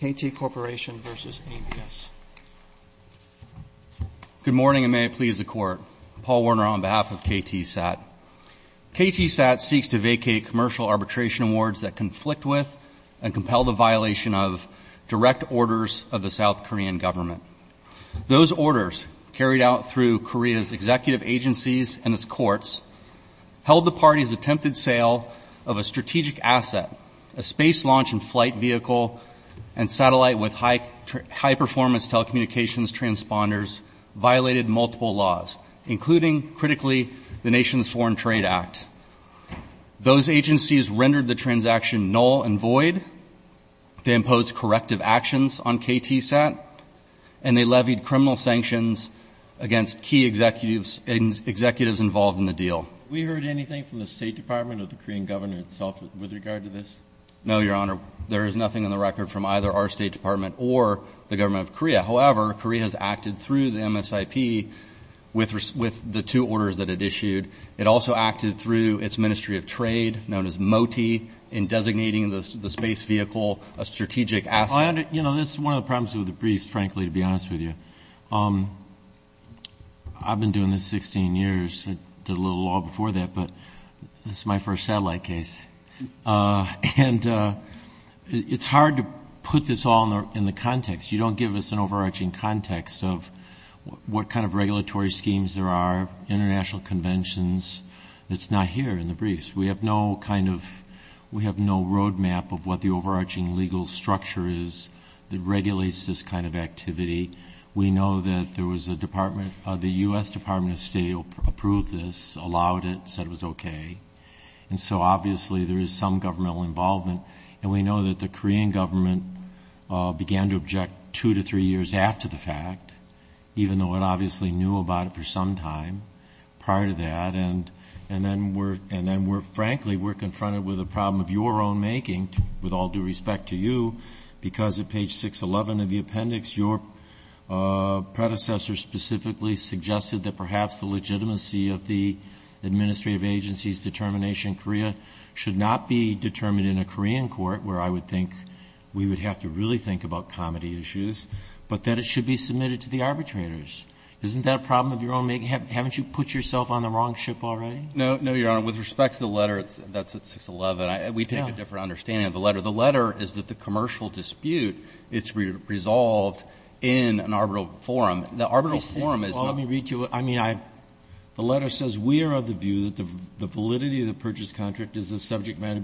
KT Corporation v. ABS Good morning and may it please the Court. Paul Werner on behalf of KTSAT. KTSAT seeks to vacate commercial arbitration awards that conflict with and compel the violation of direct orders of the South Korean government. Those orders, carried out through Korea's executive agencies and its courts, held the parties' attempted sale of a strategic asset, a space launch and flight vehicle, and satellite with high-performance telecommunications transponders, violated multiple laws, including, critically, the Nation's Foreign Trade Act. Those agencies rendered the transaction null and void, they imposed corrective actions on KTSAT, and they levied criminal sanctions against key executives involved in the deal. Have we heard anything from the State Department or the Korean government itself with regard to this? No, Your Honor. There is nothing on the record from either our State Department or the government of Korea. However, Korea has acted through the MSIP with the two orders that it issued. It also acted through its Ministry of Trade, known as MOTI, in designating the space vehicle a strategic asset. You know, this is one of the problems with the briefs, frankly, to be honest with you. I've been doing this 16 years. I did a little law before that, but this is my first satellite case. And it's hard to put this all in the context. You don't give us an overarching context of what kind of regulatory schemes there are, international conventions. It's not here in the briefs. We have no kind of, we have no roadmap of what the overarching legal structure is that regulates this kind of activity. We know that there was a department, the U.S. Department of State approved this, allowed it, said it was okay. And so obviously there is some governmental involvement. And we know that the Korean government began to object two to three years after the fact, even though it obviously knew about it for some time prior to that. And then we're, frankly, we're confronted with a problem of your own making, with all due respect to you, because at page 611 of the appendix, your predecessor specifically suggested that perhaps the legitimacy of the administrative agency's determination in Korea should not be determined in a Korean court, where I would think we would have to really think about comedy issues, but that it should be submitted to the arbitrators. Isn't that a problem of your own making? Haven't you put yourself on the wrong ship already? No, no, Your Honor. With respect to the letter, that's at 611. We take a different understanding of the letter. The letter is that the commercial dispute, it's resolved in an arbitral forum. The arbitral forum is not. Well, let me read to you, I mean, I, the letter says, we are of the view that the validity of the purchase contract is the subject matter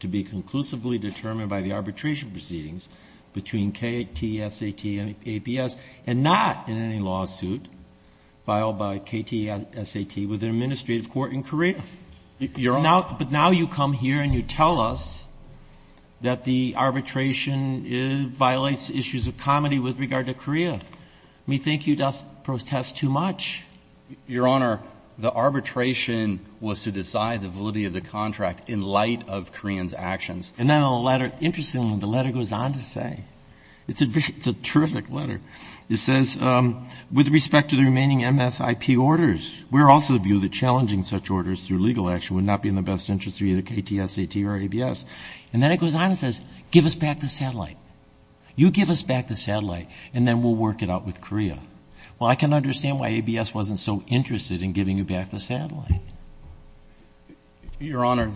to be conclusively determined by the arbitration proceedings between KTSAT and APS and not in any lawsuit filed by KTSAT with an administrative court in Korea. Your Honor. But now you come here and you tell us that the arbitration violates issues of comedy with regard to Korea. We think you just protest too much. Your Honor, the arbitration was to decide the validity of the contract in light of Koreans' actions. And then the letter, interestingly, the letter goes on to say, it's a terrific letter. It says, with respect to the remaining MSIP orders, we are also of the view that challenging such orders through legal action would not be in the best interest of either KTSAT or ABS. And then it goes on and says, give us back the satellite. You give us back the satellite and then we'll work it out with Korea. Well, I can understand why ABS wasn't so interested in giving you back the satellite. Your Honor,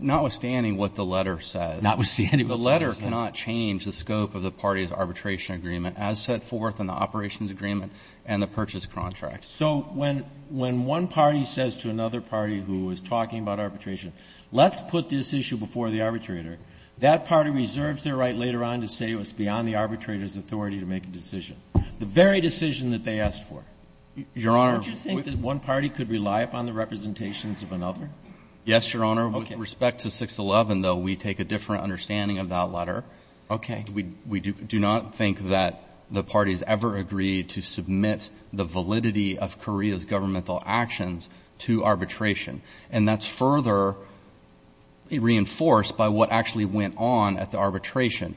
notwithstanding what the letter says. Notwithstanding what the letter says. The letter cannot change the scope of the party's arbitration agreement as set forth in the operations agreement and the purchase contract. So when one party says to another party who is talking about arbitration, let's put this issue before the arbitrator, that party reserves their right later on to say it was beyond the arbitrator's authority to make a decision. The very decision that they asked for. Your Honor. Don't you think that one party could rely upon the representations of another? Yes, Your Honor. With respect to 611, though, we take a different understanding of that letter. Okay. We do not think that the parties ever agreed to submit the validity of Korea's governmental actions to arbitration. And that's further reinforced by what actually went on at the arbitration.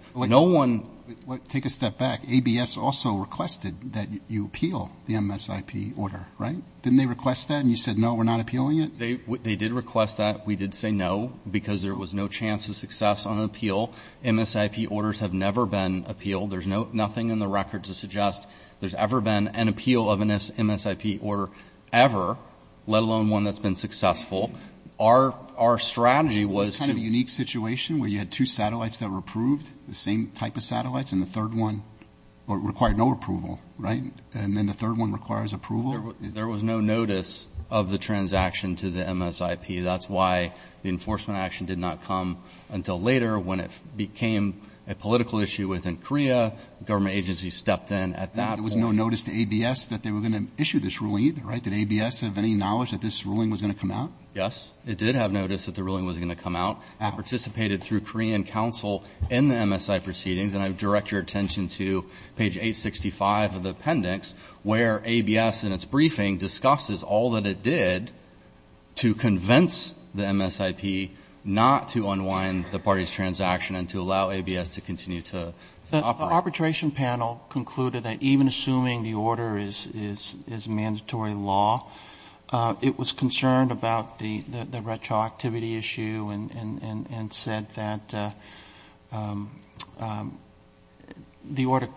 Take a step back. ABS also requested that you appeal the MSIP order, right? Didn't they request that? And you said, no, we're not appealing it? They did request that. We did say no because there was no chance of success on an appeal. MSIP orders have never been appealed. There's nothing in the record to suggest there's ever been an appeal of an MSIP order ever, let alone one that's been successful. Our strategy was to – Isn't this kind of a unique situation where you had two satellites that were approved, the same type of satellites, and the third one required no approval, right? And then the third one requires approval? There was no notice of the transaction to the MSIP. That's why the enforcement action did not come until later when it became a political issue within Korea. Government agencies stepped in at that point. There was no notice to ABS that they were going to issue this ruling either, right? Did ABS have any knowledge that this ruling was going to come out? Yes. It did have notice that the ruling was going to come out. It participated through Korean counsel in the MSI proceedings, and I direct your attention to page 865 of the appendix where ABS, in its briefing, discusses all that it did to convince the MSIP not to unwind the party's transaction and to allow ABS to continue to operate. The arbitration panel concluded that even assuming the order is mandatory law, it was concerned about the retroactivity issue and said that the order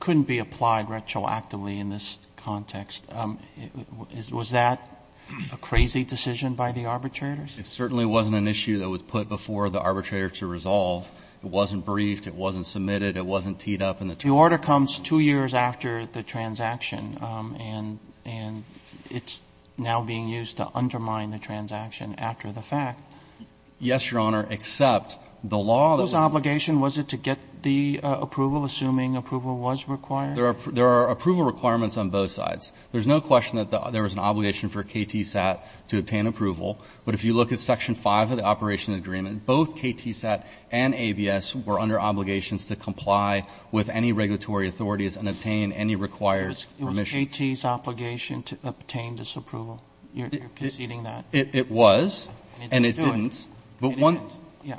couldn't be applied retroactively in this context. Was that a crazy decision by the arbitrators? It certainly wasn't an issue that was put before the arbitrator to resolve. It wasn't briefed. It wasn't submitted. It wasn't teed up. The order comes two years after the transaction, and it's now being used to undermine the transaction after the fact. Yes, Your Honor, except the law that's been issued. What was the obligation? Was it to get the approval, assuming approval was required? There are approval requirements on both sides. There's no question that there was an obligation for KTSAT to obtain approval, but if you look at section 5 of the operation agreement, both KTSAT and ABS were under obligations to comply with any regulatory authorities and obtain any required permission. It was AT's obligation to obtain this approval. You're conceding that. It was, and it didn't. It didn't. Yeah.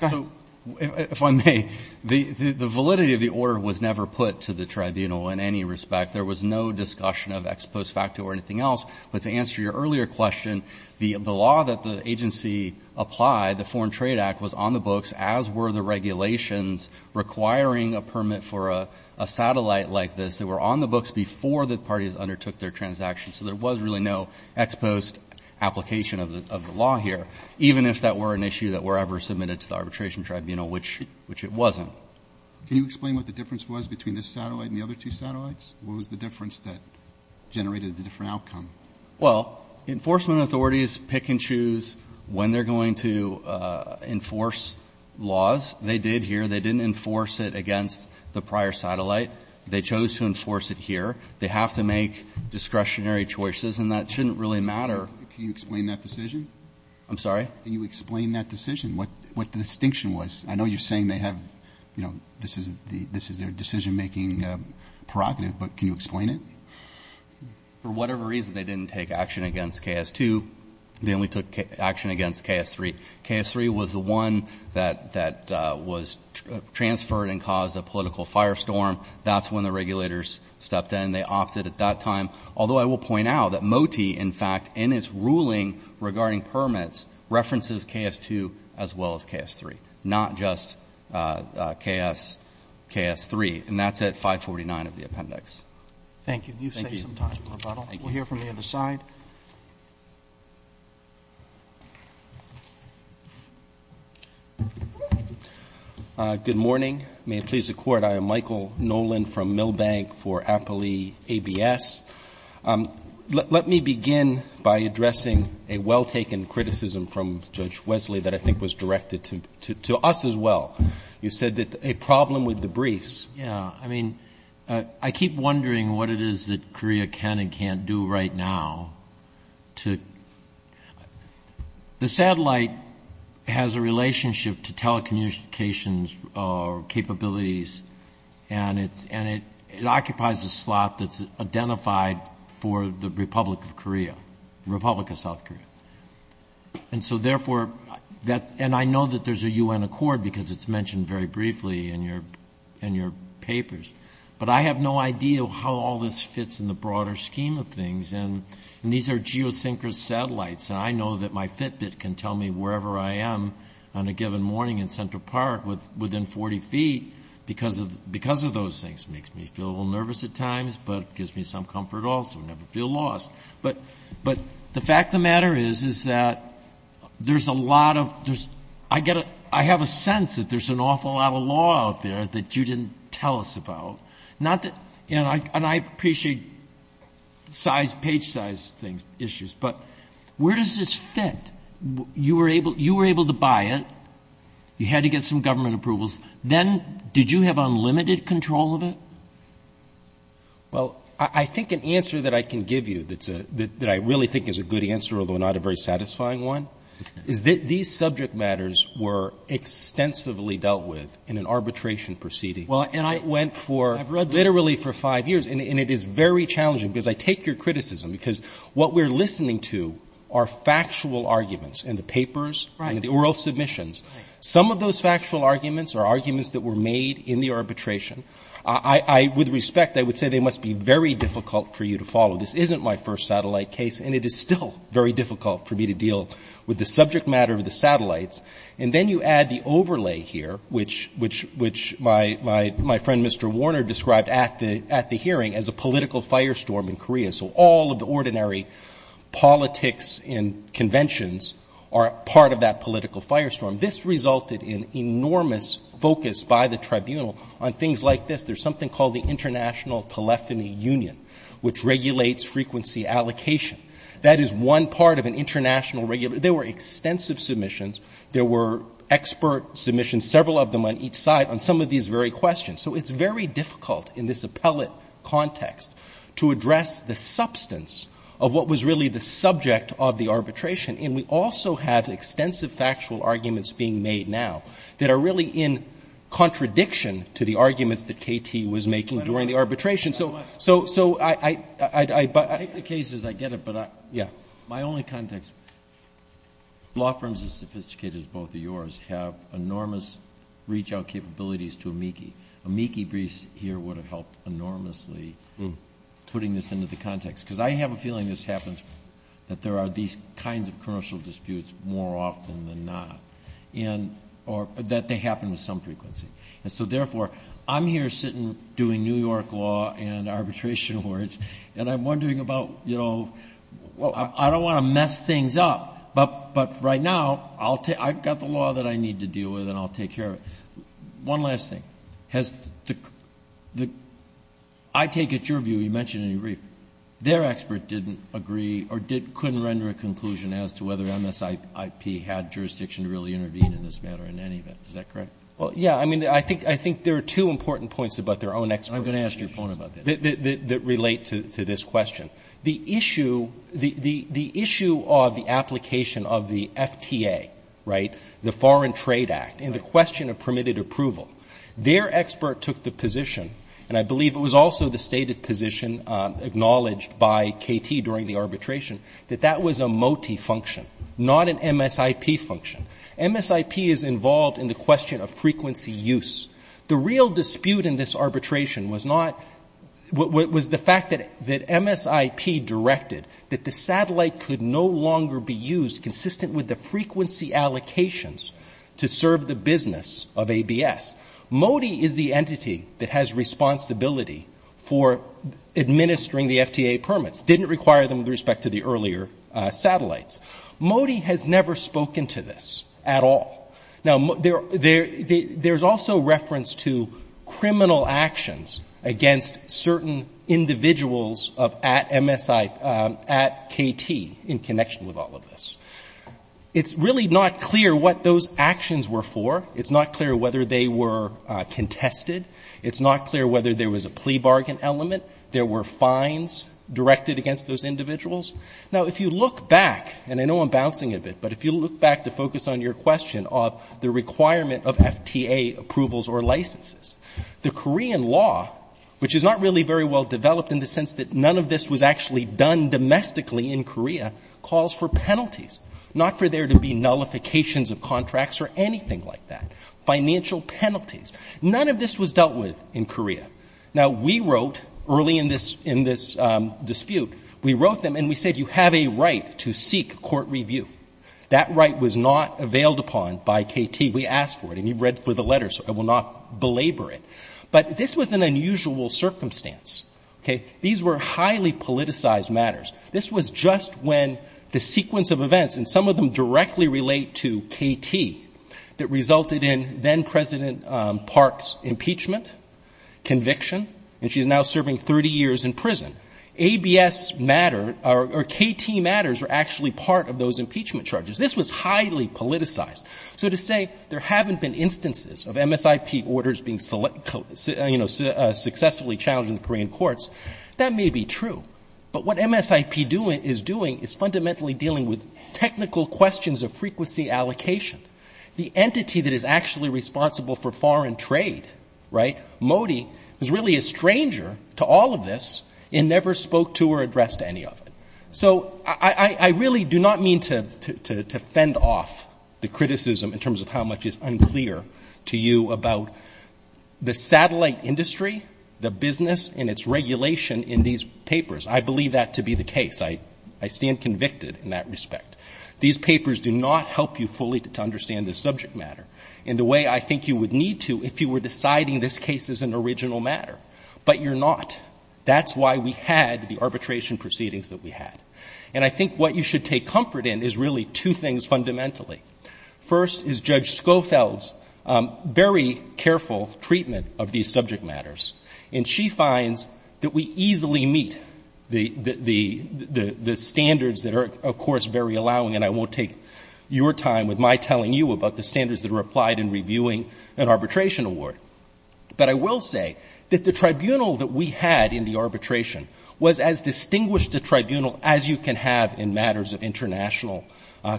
Go ahead. If I may, the validity of the order was never put to the tribunal in any respect. There was no discussion of ex post facto or anything else, but to answer your earlier question, the law that the agency applied, the Foreign Trade Act, was on the books, as were the regulations requiring a permit for a satellite like this. They were on the books before the parties undertook their transaction, so there was really no ex post application of the law here, even if that were an issue that were ever submitted to the arbitration tribunal, which it wasn't. Can you explain what the difference was between this satellite and the other two satellites? What was the difference that generated the different outcome? Well, enforcement authorities pick and choose when they're going to enforce laws. They did here. They didn't enforce it against the prior satellite. They chose to enforce it here. They have to make discretionary choices, and that shouldn't really matter. Can you explain that decision? I'm sorry? Can you explain that decision, what the distinction was? I know you're saying they have, you know, this is their decision-making prerogative, but can you explain it? For whatever reason, they didn't take action against KS-2. They only took action against KS-3. KS-3 was the one that was transferred and caused a political firestorm. That's when the regulators stepped in. They opted at that time, although I will point out that MOTI, in fact, in its ruling regarding permits, references KS-2 as well as KS-3, not just KS-3, and that's at 549 of the appendix. Thank you. You've saved some time. We'll hear from the other side. Good morning. May it please the Court. I am Michael Nolan from Milbank for Appley ABS. Let me begin by addressing a well-taken criticism from Judge Wesley that I think was directed to us as well. You said that a problem with the briefs. I keep wondering what it is that Korea can and can't do right now. The satellite has a relationship to telecommunications capabilities, and it occupies a slot that's identified for the Republic of South Korea. I know that there's a U.N. accord because it's mentioned very briefly in your papers, but I have no idea how all this fits in the broader scheme of things. These are geosynchronous satellites, and I know that my Fitbit can tell me wherever I am on a given morning in Central Park within 40 feet because of those things. It makes me feel a little nervous at times, but it gives me some comfort also. I never feel lost. But the fact of the matter is, is that there's a lot of ‑‑ I have a sense that there's an awful lot of law out there that you didn't tell us about, and I appreciate page size issues, but where does this fit? You were able to buy it. You had to get some government approvals. Then did you have unlimited control of it? Well, I think an answer that I can give you that I really think is a good answer, although not a very satisfying one, is that these subject matters were extensively dealt with in an arbitration proceeding. And I went for literally for five years, and it is very challenging because I take your criticism because what we're listening to are factual arguments in the papers and the oral submissions. Some of those factual arguments are arguments that were made in the arbitration. With respect, I would say they must be very difficult for you to follow. This isn't my first satellite case, and it is still very difficult for me to deal with the subject matter of the satellites. And then you add the overlay here, which my friend Mr. Warner described at the hearing as a political firestorm in Korea. So all of the ordinary politics and conventions are part of that political firestorm. This resulted in enormous focus by the tribunal on things like this. There's something called the International Telephony Union, which regulates frequency allocation. That is one part of an international regulation. There were extensive submissions. There were expert submissions, several of them on each side, on some of these very questions. So it's very difficult in this appellate context to address the substance of what was really the subject of the arbitration. And we also have extensive factual arguments being made now that are really in contradiction to the arguments that K.T. was making during the arbitration. So I – I take the case as I get it, but my only context – law firms as sophisticated as both of yours have enormous reach-out capabilities to amici. Amici briefs here would have helped enormously putting this into the context, because I have a feeling this happens, that there are these kinds of commercial disputes more often than not, or that they happen with some frequency. And so, therefore, I'm here sitting doing New York law and arbitration awards, and I'm wondering about, you know, I don't want to mess things up, but right now I've got the law that I need to deal with and I'll take care of it. One last thing. Has the – I take it your view, you mentioned in your brief, their expert didn't agree or couldn't render a conclusion as to whether MSIP had jurisdiction to really intervene in this matter in any event. Is that correct? Well, yeah. I mean, I think there are two important points about their own experts. I'm going to ask your opponent about that. That relate to this question. The issue – the issue of the application of the FTA, right, the Foreign Trade Act, in the question of permitted approval. Their expert took the position, and I believe it was also the stated position acknowledged by KT during the arbitration, that that was a MOTI function, not an MSIP function. MSIP is involved in the question of frequency use. The real dispute in this arbitration was not – was the fact that MSIP directed that the satellite could no longer be used consistent with the frequency allocations to serve the business of ABS. MOTI is the entity that has responsibility for administering the FTA permits, didn't require them with respect to the earlier satellites. MOTI has never spoken to this at all. Now, there's also reference to criminal actions against certain individuals of – at MSIP – at KT in connection with all of this. It's really not clear what those actions were for. It's not clear whether they were contested. It's not clear whether there was a plea bargain element. There were fines directed against those individuals. Now, if you look back, and I know I'm bouncing a bit, but if you look back to focus on your question of the requirement of FTA approvals or licenses, the Korean law, which is not really very well developed in the sense that none of this was actually done domestically in Korea, calls for penalties, not for there to be nullifications of contracts or anything like that. Financial penalties. None of this was dealt with in Korea. Now, we wrote early in this – in this dispute, we wrote them and we said, you have a right to seek court review. That right was not availed upon by KT. We asked for it, and you've read through the letters, so I will not belabor it. But this was an unusual circumstance, okay? These were highly politicized matters. This was just when the sequence of events, and some of them directly relate to KT, that resulted in then-President Park's impeachment conviction, and she's now serving 30 years in prison. ABS matter, or KT matters, are actually part of those impeachment charges. This was highly politicized. So to say there haven't been instances of MSIP orders being, you know, successfully challenged in the Korean courts, that may be true. But what MSIP is doing is fundamentally dealing with technical questions of frequency allocation. The entity that is actually responsible for foreign trade, right, Modi, is really a stranger to all of this and never spoke to or addressed any of it. So I really do not mean to fend off the criticism in terms of how much is unclear to you about the satellite industry, the business and its regulation in these papers. I believe that to be the case. I stand convicted in that respect. These papers do not help you fully to understand this subject matter in the way I think you would need to if you were deciding this case is an original matter. But you're not. That's why we had the arbitration proceedings that we had. And I think what you should take comfort in is really two things fundamentally. First is Judge Schofield's very careful treatment of these subject matters. And she finds that we easily meet the standards that are, of course, very allowing. And I won't take your time with my telling you about the standards that are applied in reviewing an arbitration award. But I will say that the tribunal that we had in the arbitration was as distinguished a tribunal as you can have in matters of international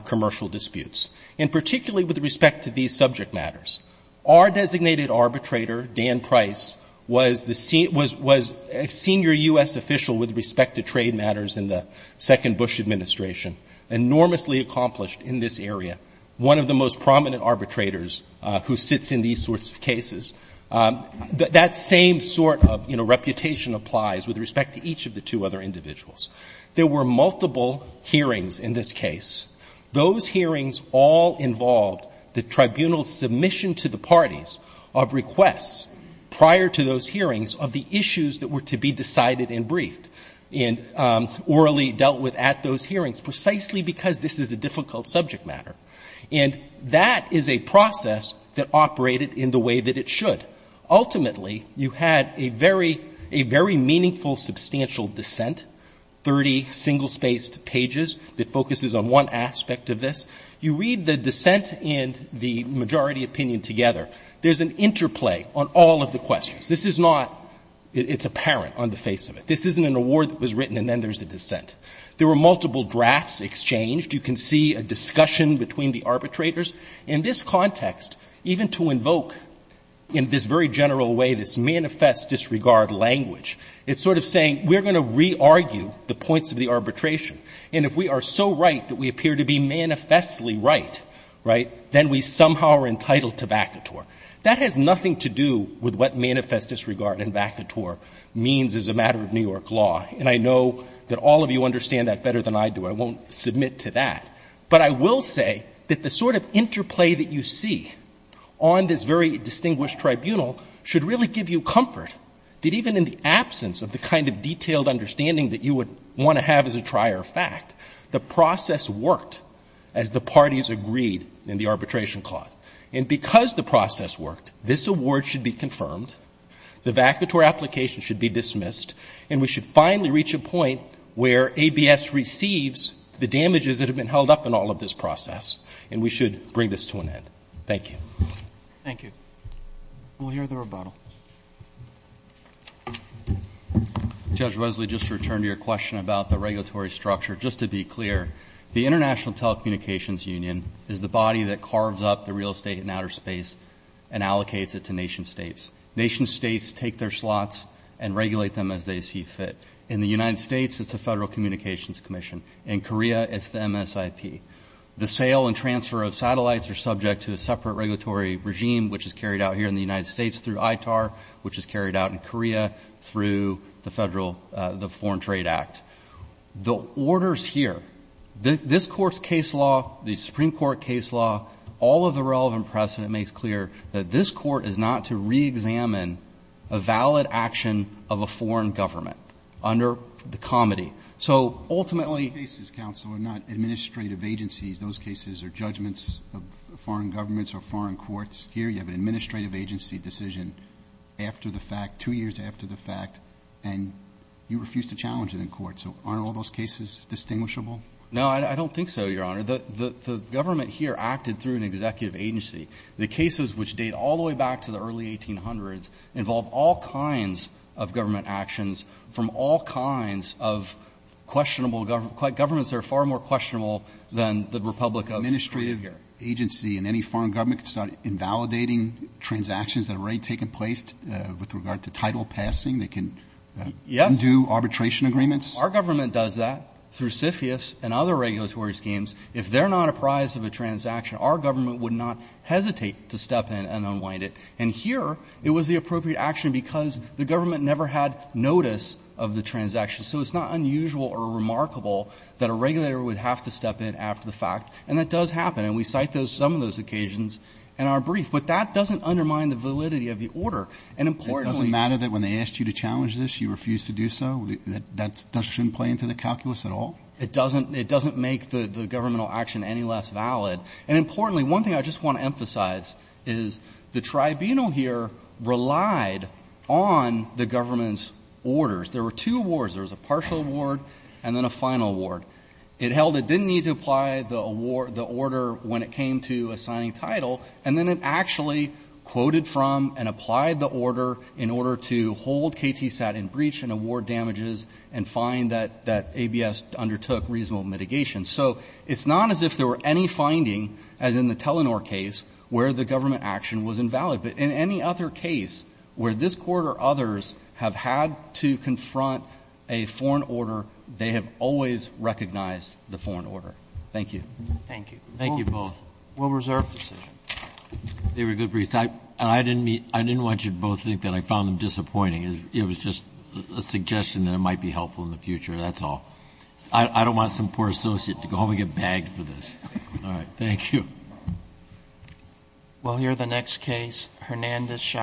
commercial disputes, and particularly with respect to these subject matters. Our designated arbitrator, Dan Price, was a senior U.S. official with respect to trade matters in the second Bush administration, enormously accomplished in this area, one of the most prominent arbitrators who sits in these sorts of cases. That same sort of reputation applies with respect to each of the two other individuals. There were multiple hearings in this case. Those hearings all involved the tribunal's submission to the parties of requests prior to those hearings of the issues that were to be decided and briefed and orally dealt with at those hearings, precisely because this is a difficult subject matter. And that is a process that operated in the way that it should. Ultimately, you had a very, a very meaningful, substantial dissent, 30 single-spaced pages that focuses on one aspect of this. You read the dissent and the majority opinion together. There's an interplay on all of the questions. This is not, it's apparent on the face of it. This isn't an award that was written and then there's a dissent. There were multiple drafts exchanged. You can see a discussion between the arbitrators. In this context, even to invoke in this very general way this manifest disregard language, it's sort of saying we're going to re-argue the points of the arbitration. And if we are so right that we appear to be manifestly right, right, then we somehow are entitled to vacatur. That has nothing to do with what manifest disregard and vacatur means as a matter of New York law. And I know that all of you understand that better than I do. I won't submit to that. But I will say that the sort of interplay that you see on this very distinguished tribunal should really give you comfort that even in the absence of the kind of detailed understanding that you would want to have as a trier of fact, the process worked as the parties agreed in the arbitration clause. And because the process worked, this award should be confirmed. The vacatur application should be dismissed. And we should finally reach a point where ABS receives the damages that have been held up in all of this process. And we should bring this to an end. Thank you. Thank you. We'll hear the rebuttal. Judge Wesley, just to return to your question about the regulatory structure, just to be clear, the International Telecommunications Union is the body that carves up the real estate in outer space and allocates it to nation states. Nation states take their slots and regulate them as they see fit. In the United States, it's the Federal Communications Commission. In Korea, it's the MSIP. The sale and transfer of satellites are subject to a separate regulatory regime, which is carried out here in the United States through ITAR, which is carried out in Korea through the Federal Foreign Trade Act. The orders here, this Court's case law, the Supreme Court case law, all of the relevant precedent makes clear that this Court is not to reexamine a valid action of a foreign government under the comity. So ultimately ---- But you have administrative agencies. Those cases are judgments of foreign governments or foreign courts. Here you have an administrative agency decision after the fact, two years after the fact, and you refuse to challenge it in court. So aren't all those cases distinguishable? No, I don't think so, Your Honor. The government here acted through an executive agency. The cases which date all the way back to the early 1800s involve all kinds of government actions from all kinds of questionable governments. They're far more questionable than the Republic of Korea here. Administrative agency in any foreign government can start invalidating transactions that have already taken place with regard to title passing. They can undo arbitration agreements. Our government does that through CFIUS and other regulatory schemes. If they're not apprised of a transaction, our government would not hesitate to step in and unwind it. And here it was the appropriate action because the government never had notice of the transaction. So it's not unusual or remarkable that a regulator would have to step in after the fact. And that does happen. And we cite some of those occasions in our brief. But that doesn't undermine the validity of the order. It doesn't matter that when they asked you to challenge this, you refused to do so? That shouldn't play into the calculus at all? It doesn't make the governmental action any less valid. And importantly, one thing I just want to emphasize is the tribunal here relied on the government's orders. There were two awards. There was a partial award and then a final award. It held it didn't need to apply the order when it came to assigning title. And then it actually quoted from and applied the order in order to hold KTSAT in breach and award damages and find that ABS undertook reasonable mitigation. So it's not as if there were any finding, as in the Telenor case, where the government action was invalid. But in any other case where this Court or others have had to confront a foreign order, they have always recognized the foreign order. Thank you. Thank you. Thank you both. We'll reserve the decision. They were good briefs. And I didn't want you to both think that I found them disappointing. It was just a suggestion that it might be helpful in the future. That's all. I don't want some poor associate to go home and get bagged for this. All right. Thank you. We'll hear the next case. Hernandez, Chicago.